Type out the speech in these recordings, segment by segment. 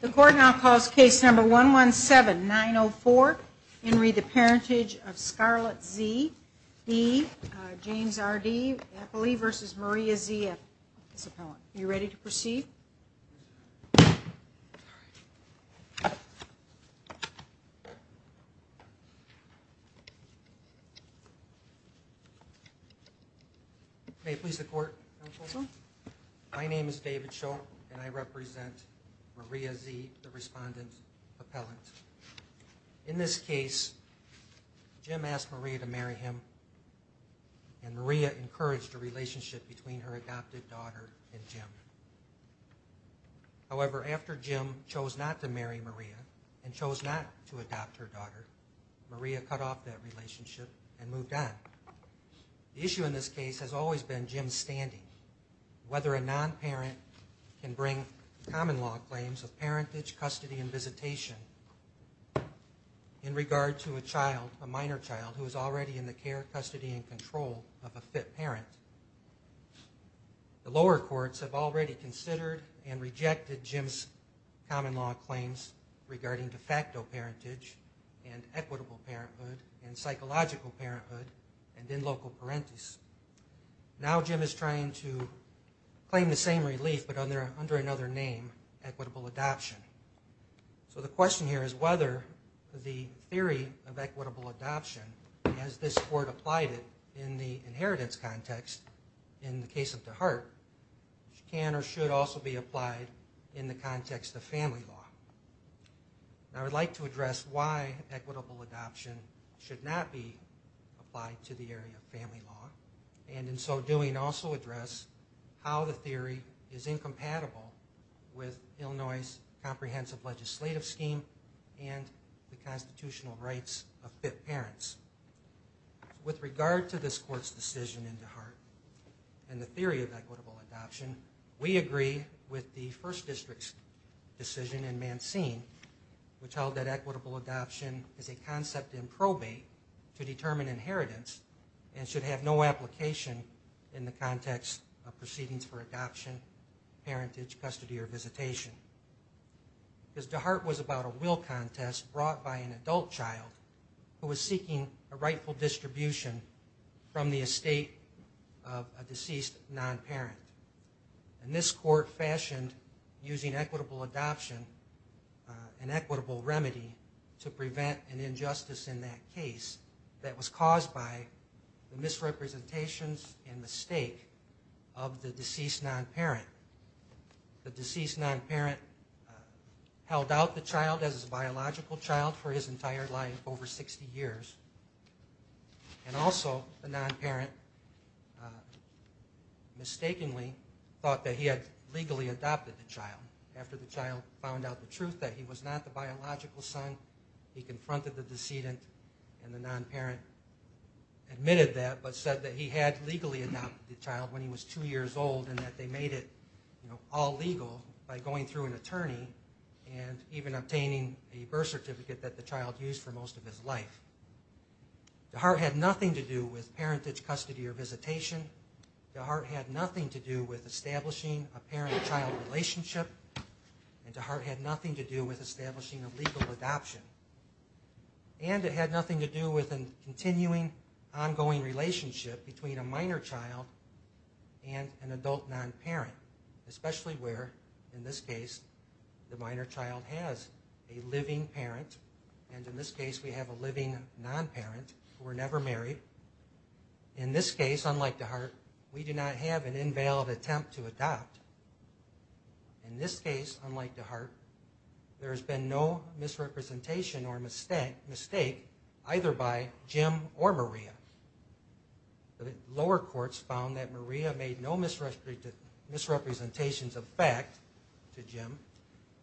The court now calls case number 117-904, Henry the Parentage of Scarlett Z.-D, James R. D. Eppley v. Maria Z. Eppley, his appellant. Are you ready to proceed? May it please the court, counsel. My name is David Shull and I represent Maria Z., the respondent appellant. In this case, Jim asked Maria to marry him and Maria encouraged a relationship. However, after Jim chose not to marry Maria and chose not to adopt her daughter, Maria cut off that relationship and moved on. The issue in this case has always been Jim's standing. Whether a non-parent can bring common law claims of parentage, custody, and visitation in regard to a child, a minor child, who is already in the care, custody, and control of a fit parent. The lower courts have already considered and rejected Jim's common law claims regarding de facto parentage and equitable parenthood and psychological parenthood and in loco parentis. Now Jim is trying to claim the same relief but under another name, equitable adoption. So the question here is whether the theory of equitable adoption should be applied in the inheritance context in the case of the heart, which can or should also be applied in the context of family law. I would like to address why equitable adoption should not be applied to the area of family law and in so doing also address how the theory is incompatible with Illinois' comprehensive legislative scheme and the constitutional rights of fit parents. With regard to this court's decision in DeHart and the theory of equitable adoption, we agree with the first district's decision in Mancine which held that equitable adoption is a concept in probate to determine inheritance and should have no application in the context of proceedings for adoption, parentage, custody, or visitation. Because DeHart was about a will contest brought by an adult child who was seeking a rightful distribution from the estate of a deceased non-parent. And this court fashioned using equitable adoption and equitable remedy to prevent an injustice in that case that was caused by the held out the child as a biological child for his entire life, over 60 years, and also the non-parent mistakenly thought that he had legally adopted the child after the child found out the truth that he was not the biological son. He confronted the decedent and the non-parent admitted that but said that he had legally adopted the child when he was two years old and that they made it all legal by going through an attorney and even obtaining a birth certificate that the child used for most of his life. DeHart had nothing to do with parentage, custody, or visitation. DeHart had nothing to do with establishing a parent-child relationship. And DeHart had nothing to do with establishing a legal adoption. And it had nothing to do with a continuing, ongoing relationship between a minor child and an adult non-parent, especially where, in this case, the minor child has a living parent, and in this case we have a living non-parent who were never married. In this case, unlike DeHart, we do not have an invalid attempt to adopt. In this case, unlike DeHart, there lower courts found that Maria made no misrepresentations of fact to Jim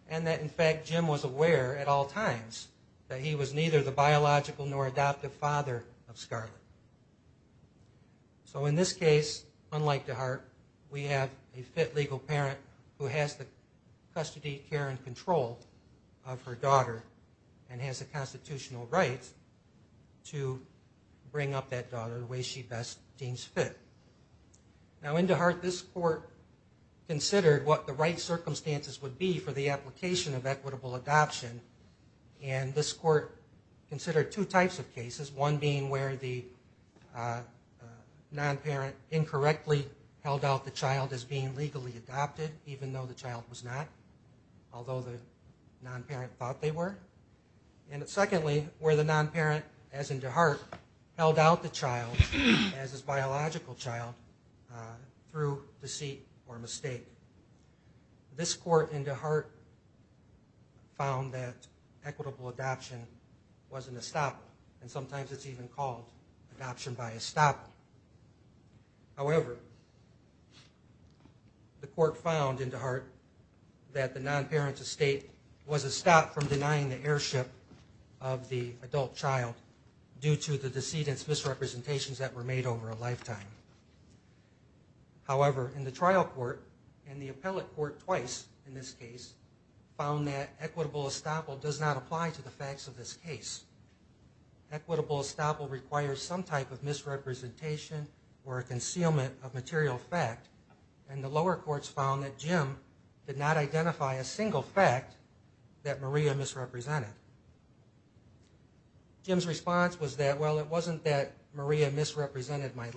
and that, in fact, Jim was aware at all times that he was neither the biological nor adoptive father of Scarlett. So in this case, unlike DeHart, we have a fit legal parent who has the custody, care, and control of her daughter and has the constitutional rights to bring up that daughter the way she best deems fit. Now, in DeHart, this court considered what the right circumstances would be for the application of equitable adoption, and this court considered two types of cases, one being where the non-parent incorrectly held out the child as being legally adopted, even though the child was not, although the non-parent thought they were, and secondly, where the non-parent, as in DeHart, held out the child as his biological child through deceit or mistake. This court in DeHart found that equitable adoption wasn't a stop, and sometimes it's even called adoption by estoppel. However, the court found in DeHart that the non-parent estate was a stop from denying the heirship of the adult child due to the decedent's misrepresentations that were made over a lifetime. However, in the trial court, and the appellate court twice in this case, found that equitable estoppel does not apply to the facts of this case. Equitable estoppel requires some type of misrepresentation or a concealment of material fact, and the lower courts found that Jim did not identify a single fact that Maria misrepresented. Jim's response was that, well, it wasn't that Maria misrepresented my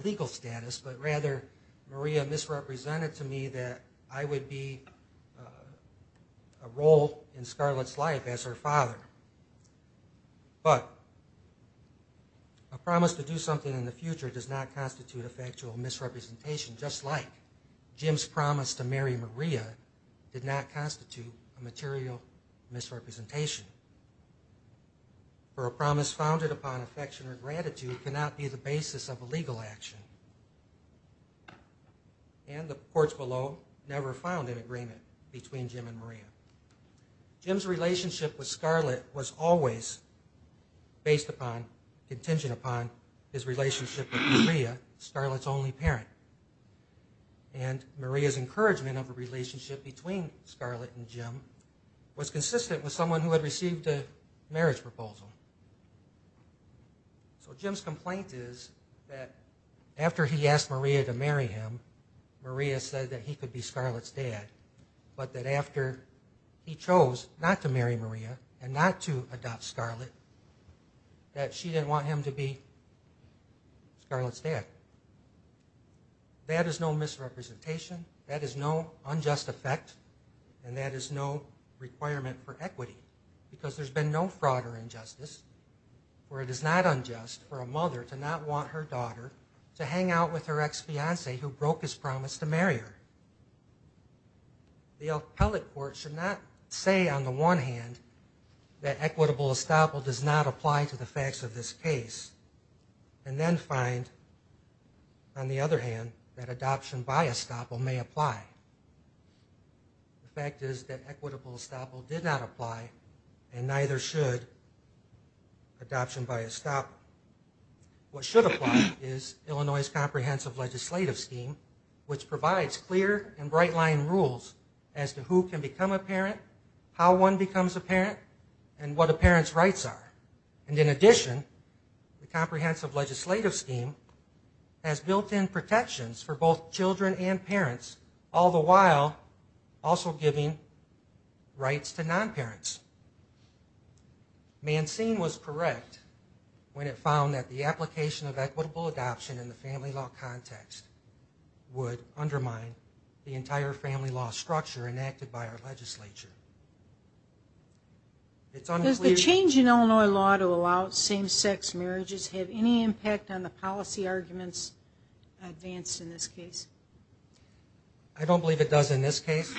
wife as her father. But a promise to do something in the future does not constitute a factual misrepresentation, just like Jim's promise to marry Maria did not constitute a material misrepresentation. For a promise founded upon affection or gratitude cannot be the basis of a legal action. And the courts below never found an agreement between Jim and Maria. Jim's relationship with Scarlett was always based upon, contingent upon his relationship with Maria, Scarlett's only parent. And Maria's encouragement of a relationship between Scarlett and Jim was consistent with someone who had received a After he asked Maria to marry him, Maria said that he could be Scarlett's dad, but that after he chose not to marry Maria and not to adopt Scarlett, that she didn't want him to be Scarlett's dad. That is no misrepresentation, that is no unjust effect, and that is no requirement for equity, because there's been no broader injustice, for it is not unjust for a mother to not want her daughter to hang out with her ex-fiancee who broke his promise to marry her. The appellate court should not say on the one hand that equitable estoppel does not apply to the facts of this case, and then find, on the other hand, that adoption by estoppel. What should apply is Illinois' comprehensive legislative scheme, which provides clear and bright-line rules as to who can become a parent, how one becomes a parent, and what a parent's rights are. And in addition, the comprehensive legislative scheme has built-in protections for both children and Mancine was correct when it found that the application of equitable adoption in the family law context would undermine the entire family law structure enacted by our legislature. It's unclear... Does the change in Illinois law to allow same-sex marriages have any impact on the policy arguments advanced in this case? I don't believe it does in this case.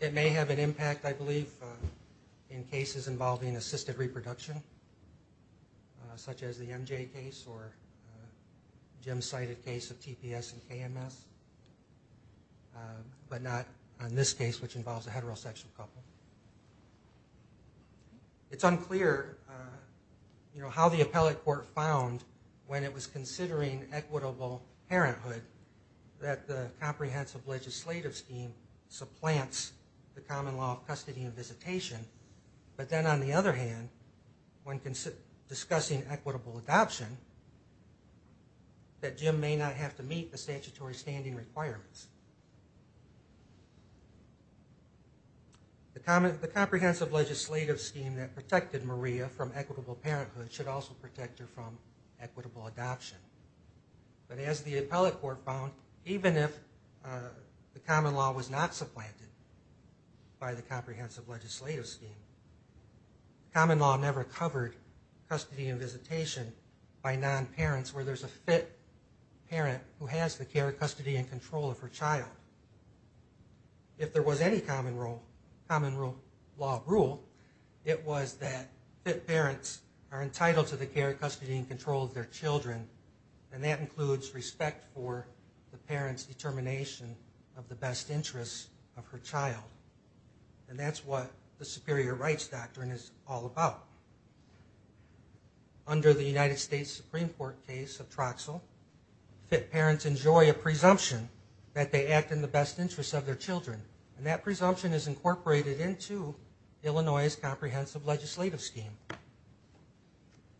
It may have an impact, I believe, in cases involving assisted reproduction, such as the MJ case or Jim's cited case of TPS and KMS, but not in this case, which involves a heterosexual couple. It's unclear how the appellate court found, when it was considering equitable parenthood, that the comprehensive legislative scheme supplants the common law of custody and visitation, but then on the other hand, when discussing equitable adoption, that Jim may not have to meet the statutory standing requirements. The comprehensive legislative scheme that protected Maria from equitable parenthood should also protect her from equitable adoption. But as the appellate court found, even if the common law was not supplanted by the comprehensive legislative scheme, common law never covered custody and visitation by non-parents where there's a fit parent who has the care, custody, and control of her child. If there was any common law rule, it was that fit parents are entitled to the care, custody, and control of their children, and that includes respect for the parent's determination of the best interests of her child. And that's what the superior rights doctrine is all about. Under the United States Supreme Court case of Troxel, fit parents enjoy a presumption that they act in the best interests of Illinois' comprehensive legislative scheme.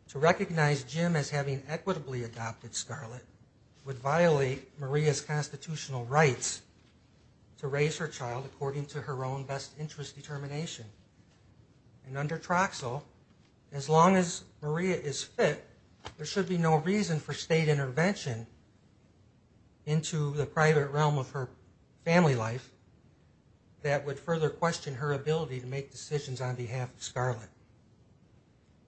To recognize Jim as having equitably adopted Scarlett would violate Maria's constitutional rights to raise her child according to her own best interest determination. And under Troxel, as long as Maria is fit, there should be no reason for state intervention into the private realm of her family life that would further question her ability to make decisions on behalf of Scarlett.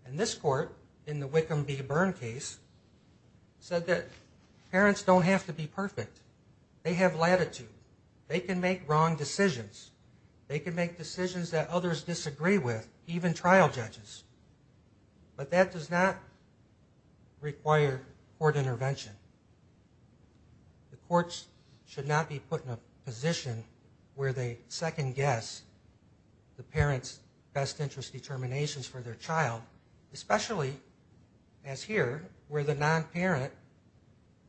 And this court, in the Wickham v. Byrne case, said that parents don't have to be perfect. They have latitude. They can make wrong decisions. They can make decisions that others disagree with, even trial judges. But that does not require court intervention. The courts should not be put in a position where they second guess the parent's best interest determinations for their child, especially, as here, where the non-parent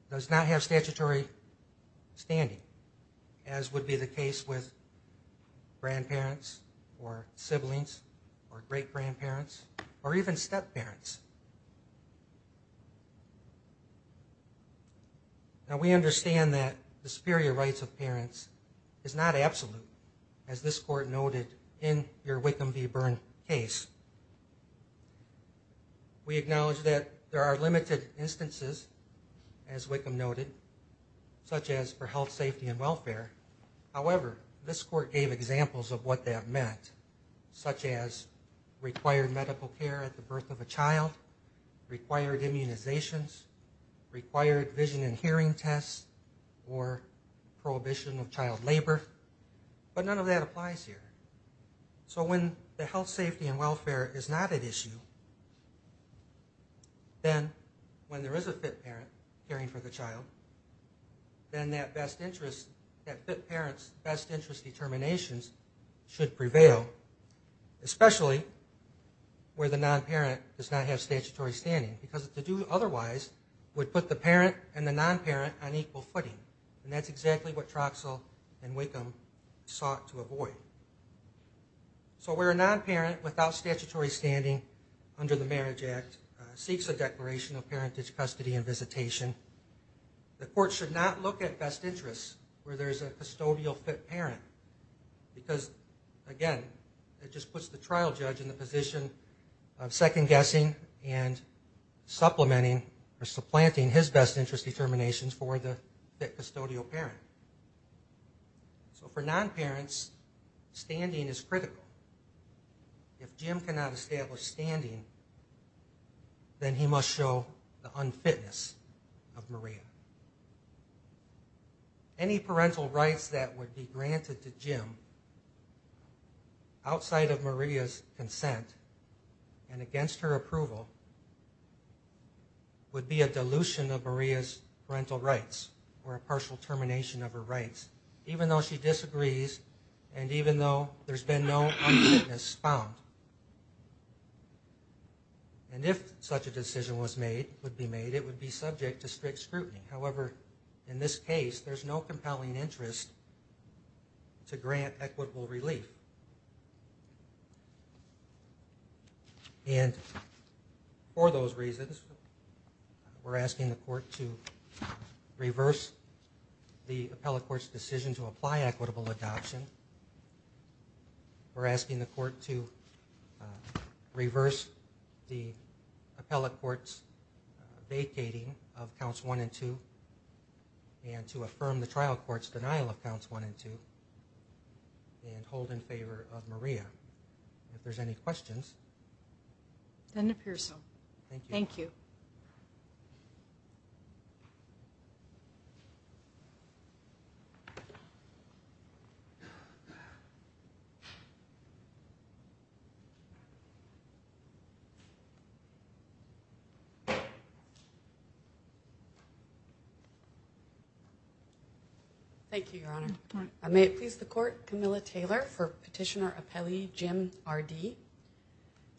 does not have the best interests of their child's parents or even step parents. Now we understand that the superior rights of parents is not absolute, as this court noted in your Wickham v. Byrne case. We acknowledge that there are limited instances, as Wickham noted, such as for health, safety, and welfare. However, this court gave examples of what that meant, such as required medical care at the birth of a child, required immunizations, required vision and hearing tests, or prohibition of child labor. But none of that applies here. So when the health, safety, and welfare is not at issue, then when there is a fit parent caring for the child, then that fit parent's best interest determinations should prevail, especially where the non-parent does not have statutory standing. Because to do otherwise would put the parent and the non-parent on equal footing. And that's exactly what Troxell and Wickham sought to avoid. So where a non-parent without statutory standing under the Marriage Act seeks a declaration of parentage custody and visitation, the court should not look at best interests where there's a custodial fit parent. Because, again, it just puts the trial judge in the position of second-guessing and supplementing or supplanting his best interest determinations for the fit custodial parent. So for non-parents, standing is critical. If Jim cannot establish standing, then he must show the unfitness. If Jim cannot establish standing, then he must show the unfitness of Maria. Any parental rights that would be granted to Jim outside of Maria's consent and against her approval would be a dilution of Maria's parental rights or a partial termination of her rights, even though she disagrees and even though there's been no unfitness found. And if such a decision was made, would be made, it would be subject to strict scrutiny. However, in this case, there's no compelling interest to grant equitable relief. And for those reasons, we're asking the court to reverse the appellate court's decision to apply equitable adoption. We're asking the court to affirm the trial court's denial of counts one and two and hold in favor of Maria. If there's any questions. It doesn't appear so. Thank you. Thank you, Your Honor. May it please the court, Camilla Taylor for petitioner appellee Jim R.D.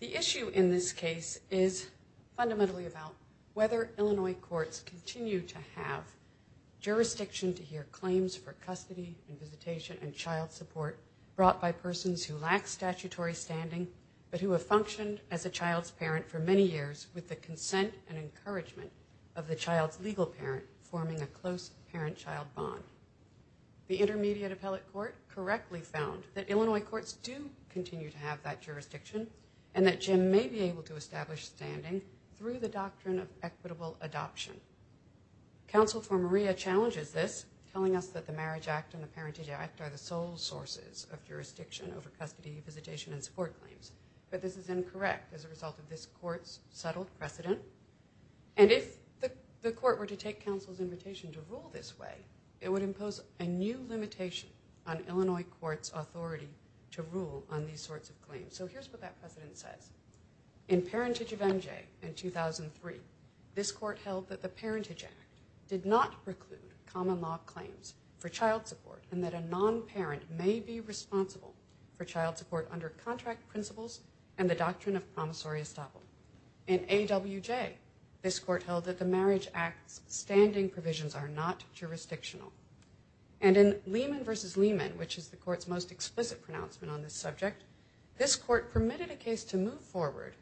The issue in this case is fundamentally about whether Illinois courts continue to have jurisdiction to hear claims for custody and visitation and child support brought by persons who lack statutory standing but who have functioned as a child's parent for many years with the consent and encouragement of the child's legal parent forming a close parent-child bond. The intermediate appellate court correctly found that Illinois courts do continue to have that doctrine of equitable adoption. Counsel for Maria challenges this, telling us that the Marriage Act and the Parentage Act are the sole sources of jurisdiction over custody, visitation, and support claims. But this is incorrect as a result of this court's settled precedent. And if the court were to take counsel's invitation to rule this way, it would impose a new limitation on Illinois court's authority to rule on these sorts of claims. So here's what that precedent says. In Parentage of MJ in 2003, this court held that the Parentage Act did not preclude common law claims for child support and that a non-parent may be responsible for child support under contract principles and the doctrine of promissory estoppel. In AWJ, this court held that the Marriage Act's standing provisions are not jurisdictional. And in Lehman v. Lehman, which is the court's most explicit pronouncement on this subject, this court permitted a case to move forward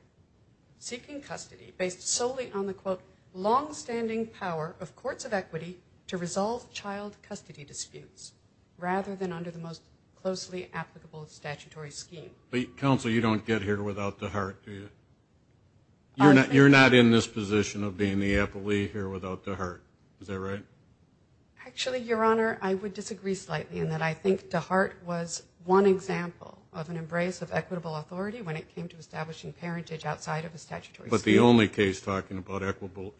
seeking custody based solely on the, quote, longstanding power of courts of equity to resolve child custody disputes rather than under the most closely applicable statutory scheme. Counsel, you don't get here without DeHart, do you? You're not in this when it came to establishing parentage outside of the statutory scheme. But the only case talking about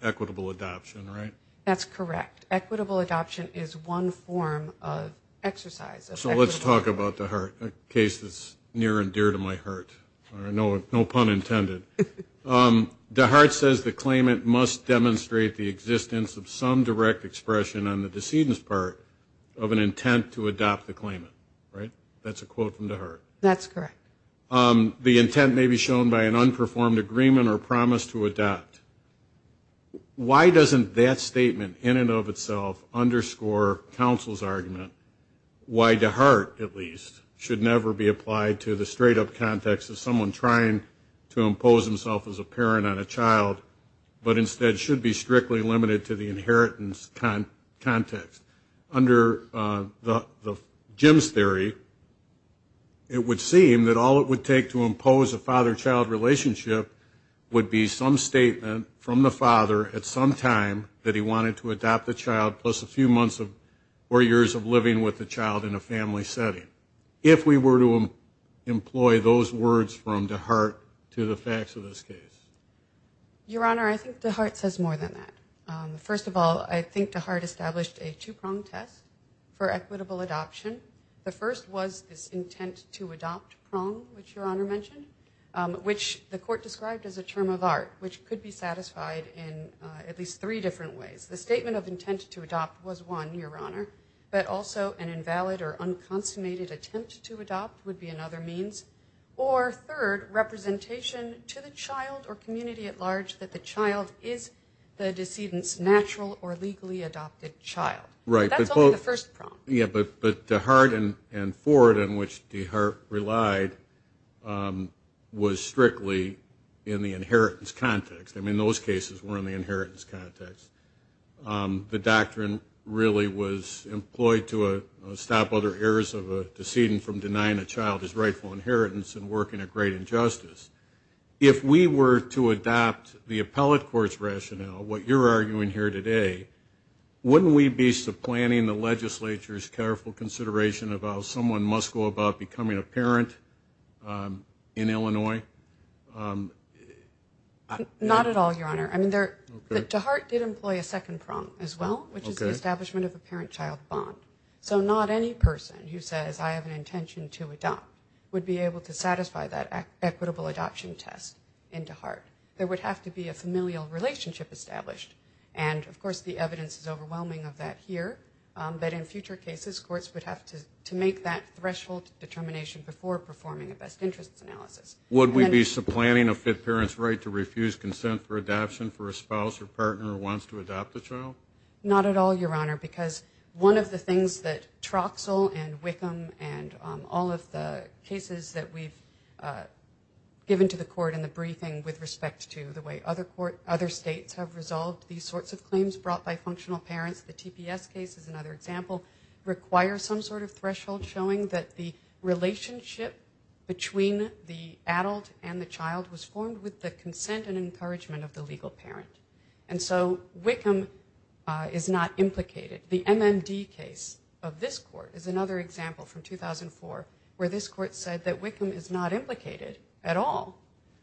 equitable adoption, right? That's correct. Equitable adoption is one form of exercise. So let's talk about DeHart, a case that's near and dear to my heart. No pun intended. DeHart says the claimant must demonstrate the existence of some direct expression on the decedent's part of an intent to adopt the claimant, right? That's a quote from DeHart. That's correct. The intent may be shown by an unperformed agreement or promise to adopt. Why doesn't that statement in and of itself underscore counsel's argument why DeHart, at least, should never be applied to the straight-up context of someone trying to impose himself as a parent on a child, but instead should be strictly limited to the inheritance context? Under Jim's theory, it would seem that all it would take to impose a father-child relationship would be some statement from the father at some time that he wanted to adopt the child plus a few months or years of living with the child in a family setting, if we were to employ those words from DeHart to the facts of this case. Your Honor, I think DeHart says more than that. First of all, I think DeHart established a two-prong test for equitable adoption. The first was this intent to adopt prong, which Your Honor mentioned, which the court described as a term of art, which could be satisfied in at least three different ways. The statement of intent to adopt was one, Your Honor, but also an unconsummated attempt to adopt would be another means. Or third, representation to the child or community at large that the child is the decedent's natural or legally adopted child. But that's only the first prong. Right. But DeHart and Ford, in which DeHart relied, was strictly in the inheritance context. I mean, those cases were in the inheritance context. The doctrine really was employed to stop other errors of a decedent from denying a child his rightful inheritance and working a great injustice. If we were to adopt the appellate court's rationale, what you're arguing here today, wouldn't we be supplanting the legislature's careful consideration of how someone must go about becoming a parent in Illinois? Not at all, Your Honor. I mean, there's a lot of people who are saying that. DeHart did employ a second prong as well, which is the establishment of a parent-child bond. So not any person who says, I have an intention to adopt would be able to satisfy that equitable adoption test in DeHart. There would have to be a familial relationship established. And, of course, the evidence is overwhelming of that here. But in future cases, courts would have to make that threshold determination before performing a best interests analysis. Would we be supplanting a fit parent's right to refuse consent for adoption for a spouse or partner who wants to adopt a child? Not at all, Your Honor, because one of the things that Troxel and Wickham and all of the cases that we've given to the court in the briefing with respect to the way other states have resolved these sorts of claims brought by functional parents, the TPS case is another example, require some sort of threshold showing that the adult and the child was formed with the consent and encouragement of the legal parent. And so Wickham is not implicated. The MND case of this court is another example from 2004 where this court said that Wickham is not implicated at all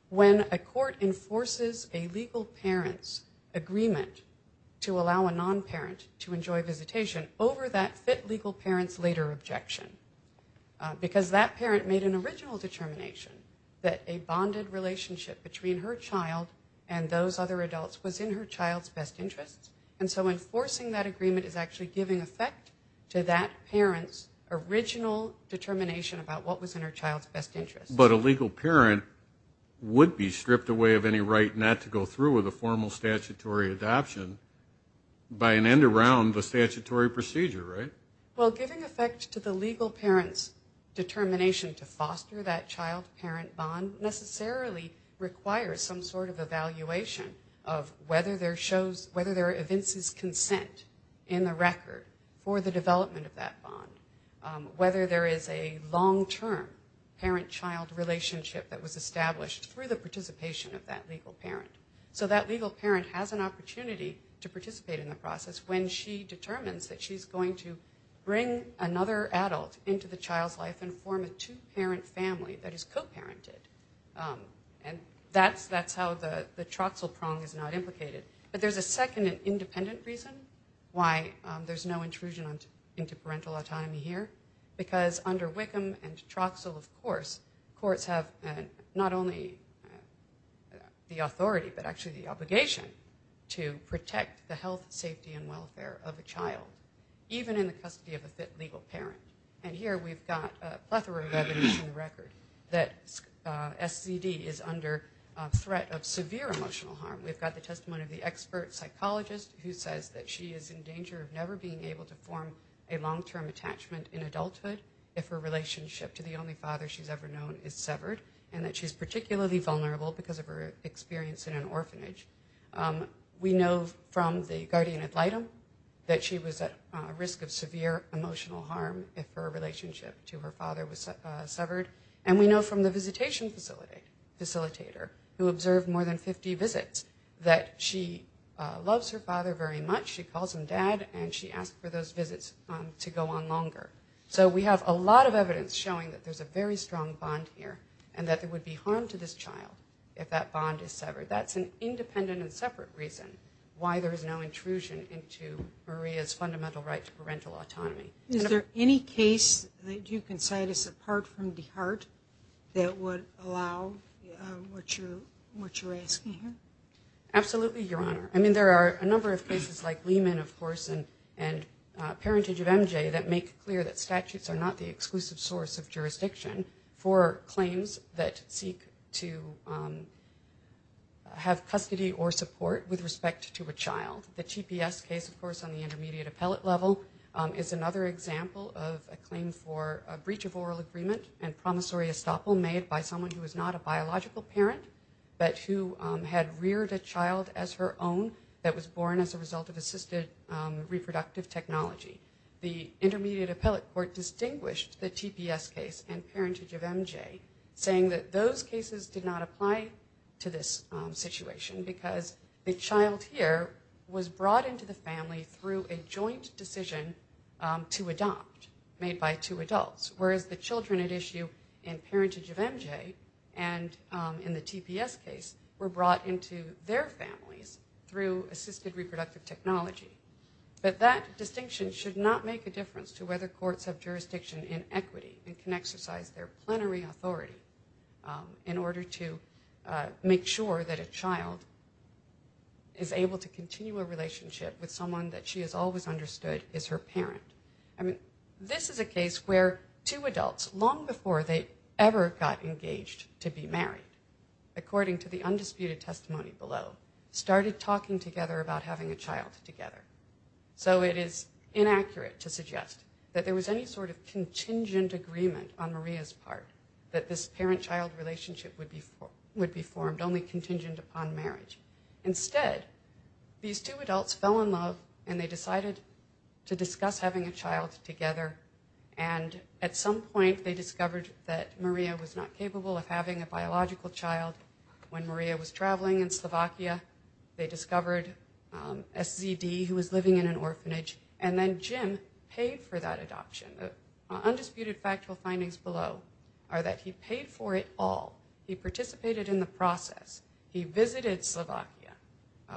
when a court enforces a legal parent's agreement to allow a non-parent to enjoy visitation over that fit legal parent's later objection. Because that parent made an original determination that a bonded relationship between her child and those other adults was in her child's best interest. And so enforcing that agreement is actually giving effect to that parent's original determination about what was in her child's best interest. But a legal parent would be stripped away of any right not to go through with a formal statutory adoption by an end around the statutory procedure, right? Well, giving effect to the child-parent bond necessarily requires some sort of evaluation of whether there are evinces consent in the record for the development of that bond, whether there is a long-term parent-child relationship that was established through the participation of that legal parent. So that legal parent has an opportunity to participate in the process when she determines that she's going to bring another adult into the child's life and form a two-parent family that is co-parented. And that's how the Troxel prong is not implicated. But there's a second independent reason why there's no intrusion into parental autonomy here. Because under Wickham and Troxel, of course, courts have not only the authority but actually the obligation to protect the health, safety, and and the safety of the child. And so that's why we're here. And the reason why we're here is because we want to make sure that the child is not under threat of severe emotional harm. We've got the testimony of the expert psychologist who says that she is in danger of never being able to form a long-term attachment in adulthood if her relationship to the only father she's ever known is severed and that she's particularly vulnerable because of her experience in an adult facility. And we know from the visitation facilitator who observed more than 50 visits that she loves her father very much, she calls him dad, and she asked for those visits to go on longer. So we have a lot of evidence showing that there's a very strong bond here and that there would be harm to this child if that bond is severed. That's an independent and separate reason why there is no intrusion into Maria's fundamental right to parental autonomy. Is there any case that you can cite us apart from DeHart that would allow what you're asking here? Absolutely, Your Honor. I mean, there are a number of cases like Lehman, of course, and Parentage of MJ that make clear that statutes are not the exclusive source of jurisdiction for claims that seek to have custody or support with respect to a child. The GPS case, of course, on the intermediate appellate level is another example of a claim for a breach of oral agreement and promissory estoppel made by someone who is not a biological parent, but who had reared a child as her own that was born as a result of assisted reproductive technology. The intermediate appellate court distinguished the GPS case and Parentage of MJ, saying that those cases did not apply to this situation because the child here was brought into the family through a joint decision to adopt, made by two adults, whereas the children at issue in Parentage of MJ and in the GPS case were brought into their families through assisted reproductive technology. But that distinction should not make a difference to whether courts have jurisdiction in equity and can exercise their plenary authority in order to make sure that a child is able to continue a relationship with someone that she has always understood is her parent. This is a case where two adults, long before they ever got engaged to be married, according to the undisputed testimony below, started talking together about having a child together. So it is inaccurate to suggest that there was any sort of contingent agreement on Maria's part that this parent-child relationship would be formed, only contingent upon marriage. Instead, these two adults fell in love and they decided to discuss having a child together. And at some point, they discovered that Maria was not capable of having a biological child. When Maria was traveling in Slovakia, they discovered SZD, who was living in an orphanage, and then Jim paid for that adoption. The undisputed factual findings below are that he paid for it all. He participated in the process. He visited Slovakia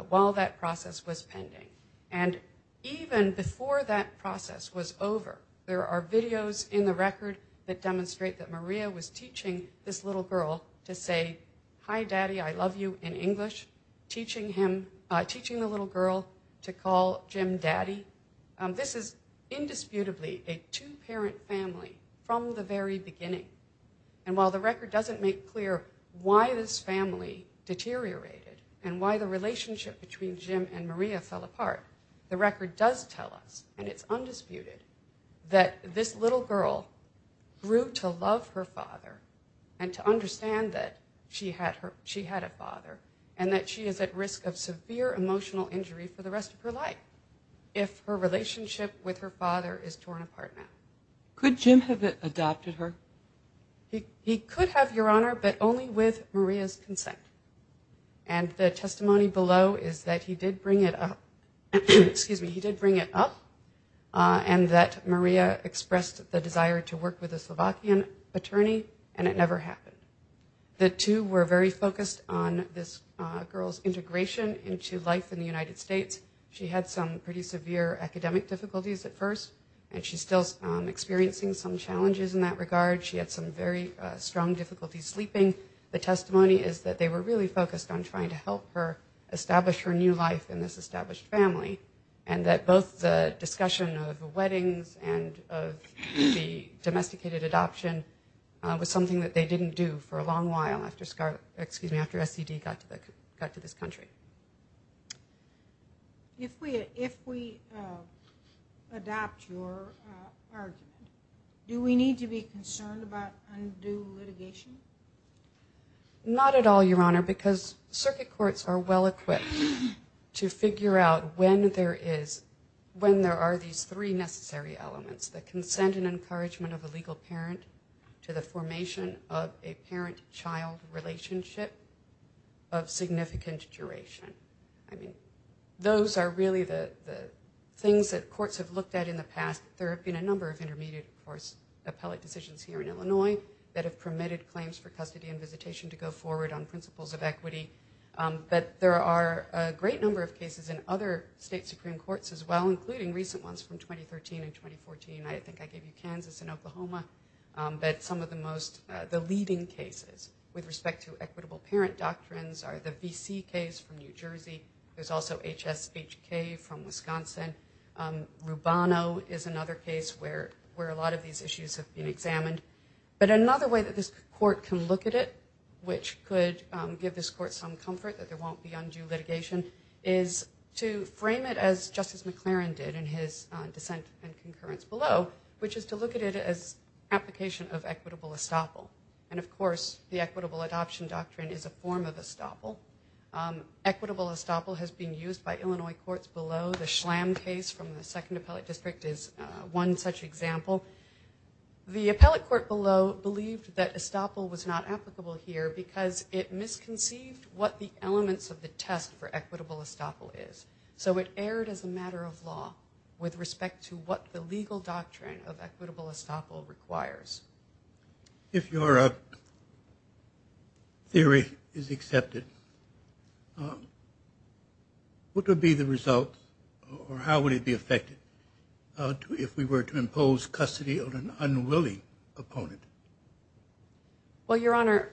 while that process was pending. And even before that process was over, Jim and Maria's relationship was over. There are videos in the record that demonstrate that Maria was teaching this little girl to say, hi, daddy, I love you in English, teaching the little girl to call Jim daddy. This is indisputably a two-parent family from the very beginning. And while the record doesn't make clear why this family deteriorated and why the relationship between Jim and Maria fell apart, the fact remains that this little girl grew to love her father and to understand that she had a father and that she is at risk of severe emotional injury for the rest of her life if her relationship with her father is torn apart now. Could Jim have adopted her? He could have, Your Honor, but only with Maria's consent. And the testimony below is that he did bring it up and that he was concerned that Maria expressed the desire to work with a Slovakian attorney, and it never happened. The two were very focused on this girl's integration into life in the United States. She had some pretty severe academic difficulties at first, and she's still experiencing some challenges in that regard. She had some very strong difficulties sleeping. The testimony is that they were really focused on trying to help her get to the United States. And the domesticated adoption was something that they didn't do for a long while after SCD got to this country. If we adopt your argument, do we need to be concerned about undue litigation? Not at all, Your Honor, because circuit courts are well-equipped to figure out when there are these three necessary elements. When there are consent and encouragement of a legal parent to the formation of a parent-child relationship of significant duration. I mean, those are really the things that courts have looked at in the past. There have been a number of intermediate, of course, appellate decisions here in Illinois that have permitted claims for custody and visitation to go forward on principles of equity. But there are a great number of cases in other state Supreme Courts as well, including recent ones from 2013 and 2014. I think I gave you Kansas and Oklahoma. But some of the most, the leading cases with respect to equitable parent doctrines are the VC case from New Jersey. There's also HSHK from Wisconsin. Rubano is another case where a lot of these issues have been examined. But another way that this court can look at it, which could give this court some comfort that there won't be undue litigation, is to frame it as Justice McLaren did in his dissent and concurrence below, which is to look at it as application of equitable estoppel. And, of course, the equitable adoption doctrine is a form of estoppel. Equitable estoppel has been used by Illinois courts below. The Schlamm case from the Second Appellate District is one such example. The appellate court below believed that estoppel was not applicable here because it misconceived what the elements of the test for equitable estoppel is. So it erred as a matter of law with respect to what the legal doctrine of equitable estoppel requires. If your theory is accepted, what would be the result or how would it be affected if we were to impose custody of an unwilling opponent? Well, Your Honor,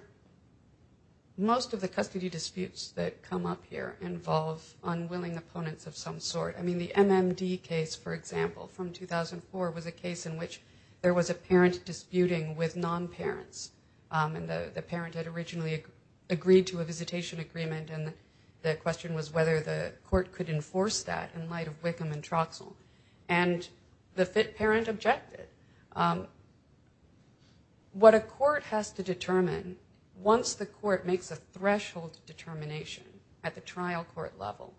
most of the custody disputes that come up here involve unwilling opponents of some sort. I mean, the MMD case, for example, from 2004, was a case in which there was a parent disputing with non-parents. And the parent had originally agreed to a visitation agreement, and the question was whether the court could enforce that in light of the trial. And what a court has to determine, once the court makes a threshold determination at the trial court level,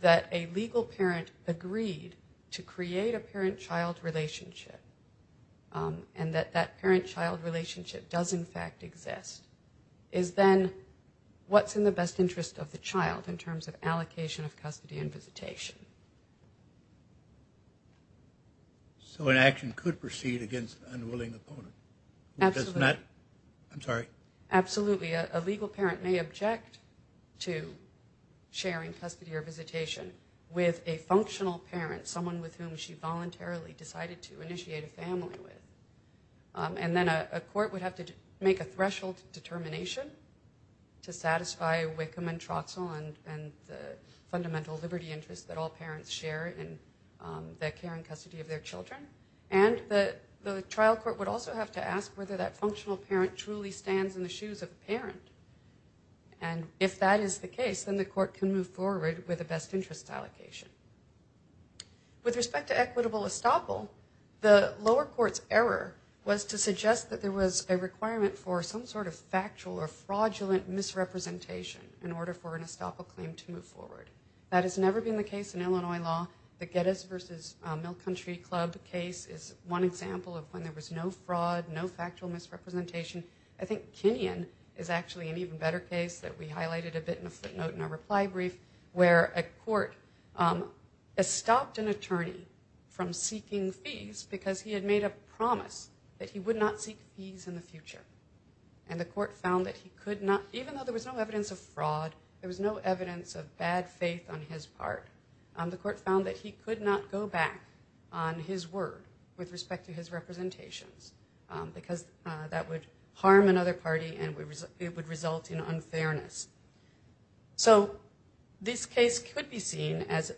that a legal parent agreed to create a parent-child relationship, and that that parent-child relationship does, in fact, exist, is then what's in the best interest of the child in terms of allocation of custody and visitation. So an action could proceed against an unwilling opponent? Absolutely. A legal parent may object to sharing custody or visitation with a functional parent, someone with whom she voluntarily decided to initiate a family with. And then a court would have to make a threshold determination to satisfy wiccum and troxel and the fundamental liberty interests that all parents have. And then a court would have to make a decision on whether or not that functional parent truly stands in the shoes of the parent. And if that is the case, then the court can move forward with a best interest allocation. With respect to equitable estoppel, the lower court's error was to suggest that there was a requirement for some sort of factual or fraudulent misrepresentation in order for an estoppel claim to move forward. That has never been the case in Illinois law. The Geddes v. Mill Country Club case is one example of when there was no fraud, no factual misrepresentation. I think Kenyon is actually an even better case that we highlighted a bit in a footnote in our reply brief, where a court estopped an attorney from seeking fees because he had made a promise that he would not seek fees in the future. And the court found that he could not even though there was no evidence of fraud, there was no evidence of bad faith on his part, the court found that he could not go back on his word with respect to his representations because that would harm another party and it would result in unfairness. So this case could be seen as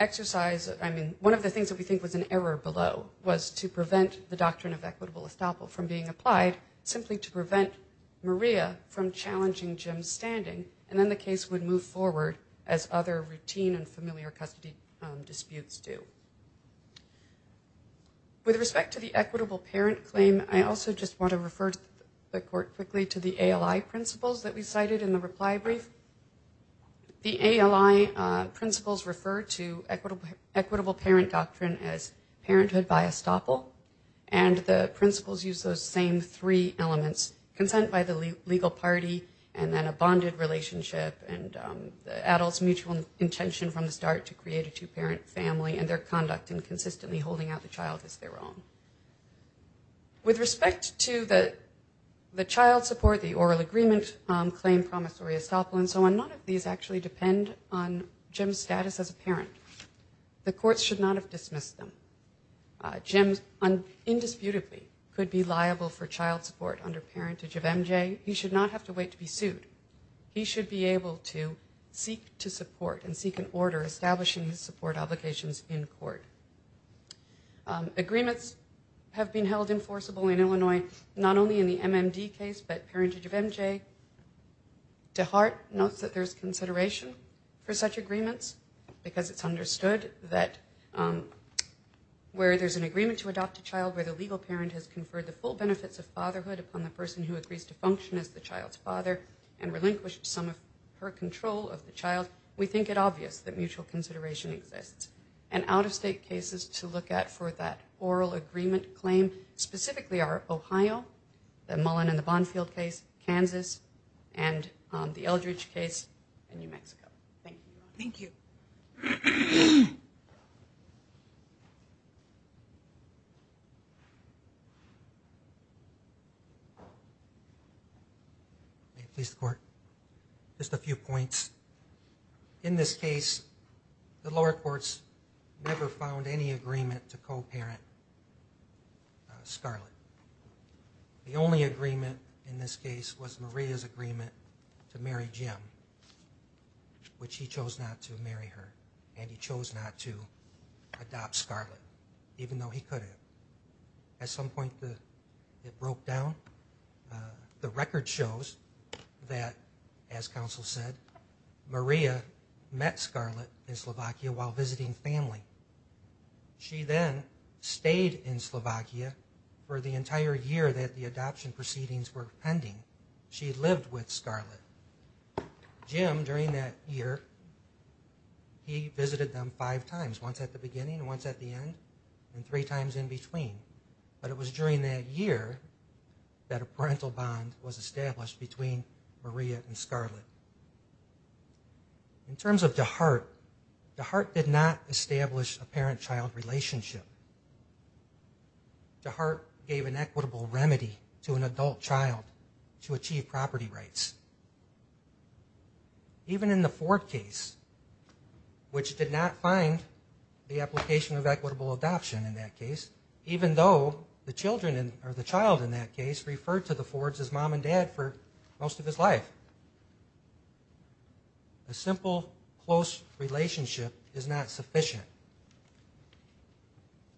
exercise, I mean, one of the things that we think was an error below was to prevent the doctrine of equitable estoppel from being applied simply to prevent Maria from challenging the doctrine of equitable parent claim. And so the court would have the case in Jim's standing and then the case would move forward as other routine and familiar custody disputes do. With respect to the equitable parent claim, I also just want to refer the court quickly to the ALI principles that we cited in the reply brief. The ALI principles refer to equitable parent doctrine as parenthood by estoppel and the principles use those same three elements, consent by the legal party and then a bonded relationship and the adult's mutual intention from the start to create a two-parent family and their conduct in consistently holding out the child as their own. With respect to the child support, the oral agreement claim promissory estoppel and so on, none of these actually depend on Jim's status as a parent. The court should not have dismissed them. Jim indisputably could be liable for child support under parentage of MJ. He should not have to wait to be sued. He should not have to wait to be sued. He should be able to seek to support and seek an order establishing his support obligations in court. Agreements have been held enforceable in Illinois not only in the MMD case but parentage of MJ. DeHart notes that there's consideration for such agreements because it's understood that where there's an agreement to adopt a child where the legal parent has conferred the full benefits of fatherhood upon the person who agrees to function as the child's father and relinquished some of her control of the child, we think it obvious that mutual consideration exists. And out-of-state cases to look at for that oral agreement claim specifically are Ohio, the Mullen and the Bonfield case, Kansas, and the Eldridge case in New Mexico. Thank you. Just a few points. In this case, the lower courts never found any agreement to co-parent Scarlett. The only agreement in this case was Maria's agreement to marry Jim, which he chose not to marry her and he chose not to adopt Scarlett, even though he could have. At some point it broke down. The record shows that, as counsel said, Maria met Scarlett in Slovakia while visiting family. She then stayed in Slovakia for the entire year that the adoption proceedings were pending. She lived with Scarlett. Jim, during that year, he visited them five times, once at the beginning, once at the end, and three times in between. But it was during that year that a parental bond was established between Maria and Scarlett. In terms of DeHart, DeHart did not establish a parent-child relationship. DeHart gave an equitable remedy to an adult child to afford case, which did not find the application of equitable adoption in that case, even though the child in that case referred to the Fords as mom and dad for most of his life. A simple, close relationship is not sufficient.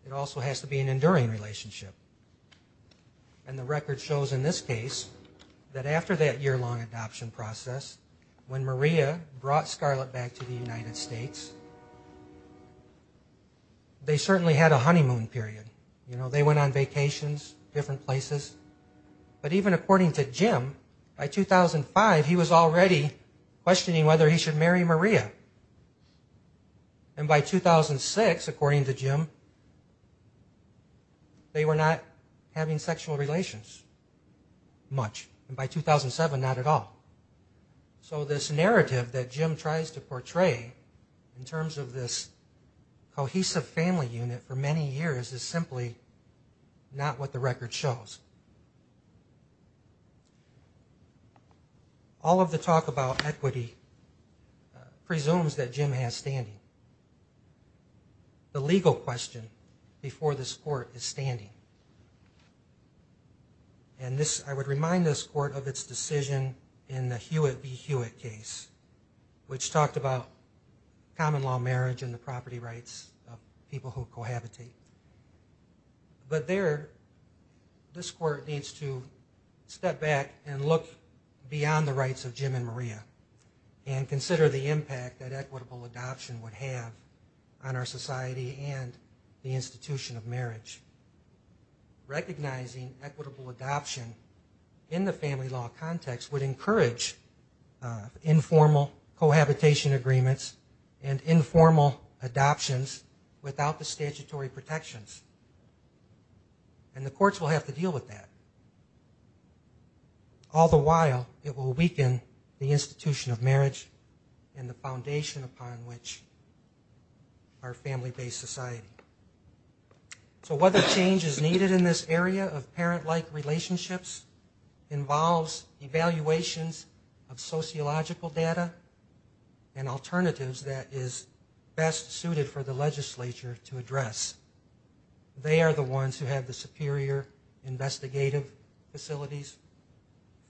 It also has to be an enduring relationship. And the record shows in this case that after that year-long adoption process, when Maria brought Scarlett back to the United States, they certainly had a honeymoon period. You know, they went on vacations, different places. But even according to Jim, by 2005, he was already questioning whether he should marry Maria. And by 2006, according to Jim, they were not having sexual relations much. And by 2007, not at all. So this narrative that Jim tries to portray in terms of this cohesive family unit for many years is simply not what the record shows. All of the talk about equity presumes that Jim has standing. The legal question before this court is standing. And I would remind this court of its decision in the Hewitt v. Hewitt case. Which talked about common law marriage and the property rights of people who cohabitate. But there, this court needs to step back and look beyond the rights of Jim and Maria and consider the impact that equitable adoption would have on our society and the institution of marriage. Recognizing equitable adoption in the family law context would encourage informal cohabitation agreements and informal adoptions without the statutory protections. And the courts will have to deal with that. All the while, it will weaken the institution of marriage and the foundation upon which our family-based society. So whether change is needed in this area of family law, it's the evaluations of sociological data and alternatives that is best suited for the legislature to address. They are the ones who have the superior investigative facilities,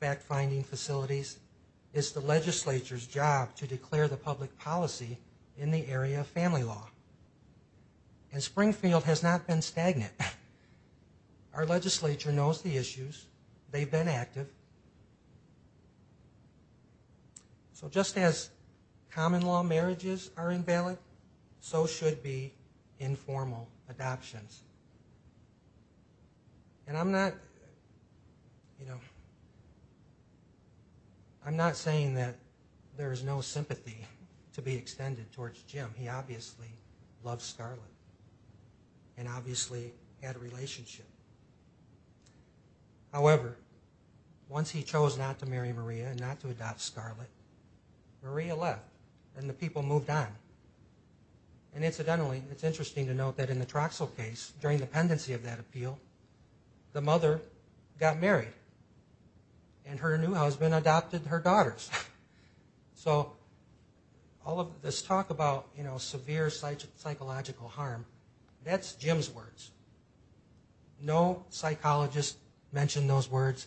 fact-finding facilities. It's the legislature's job to declare the public policy in the area of family law. And Springfield has not been stagnant. Our legislature knows the issues. They've been active. And we've been active. We've been active in the past. So just as common law marriages are invalid, so should be informal adoptions. And I'm not, you know, I'm not saying that there is no sympathy to be extended towards Jim. He obviously loves Scarlett and obviously had a relationship. However, once he chose not to marry Maria, and not to adopt Scarlett, Maria left and the people moved on. And incidentally, it's interesting to note that in the Troxell case, during the pendency of that appeal, the mother got married and her new husband adopted her daughters. So all of this talk about, you know, severe psychological harm, that's Jim's words. No psychologist mentioned those words.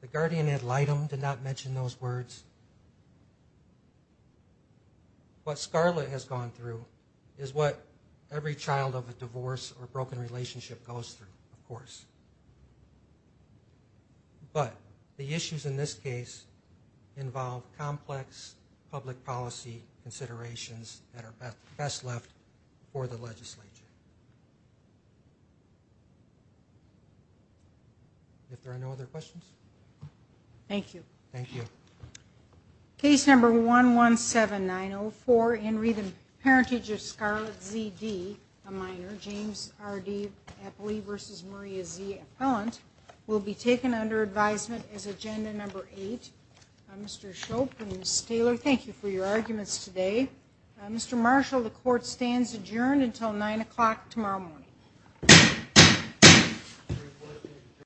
The guardian ad litem did not mention those words. What Scarlett has gone through is what every child of a divorce or broken relationship goes through, of course. But the issues in this case involve complex public policy considerations that are best left for the legislature. If there are no other questions? Thank you. Case number 117904, Henry, the parentage of Scarlett ZD, a minor, James R.D. Eppley v. Maria Z. Appellant, will be taken under advisement as agenda number eight. Mr. Shope and Ms. Taylor, thank you for your arguments today. Mr. Marshall, the court stands adjourned until 9 o'clock tomorrow morning.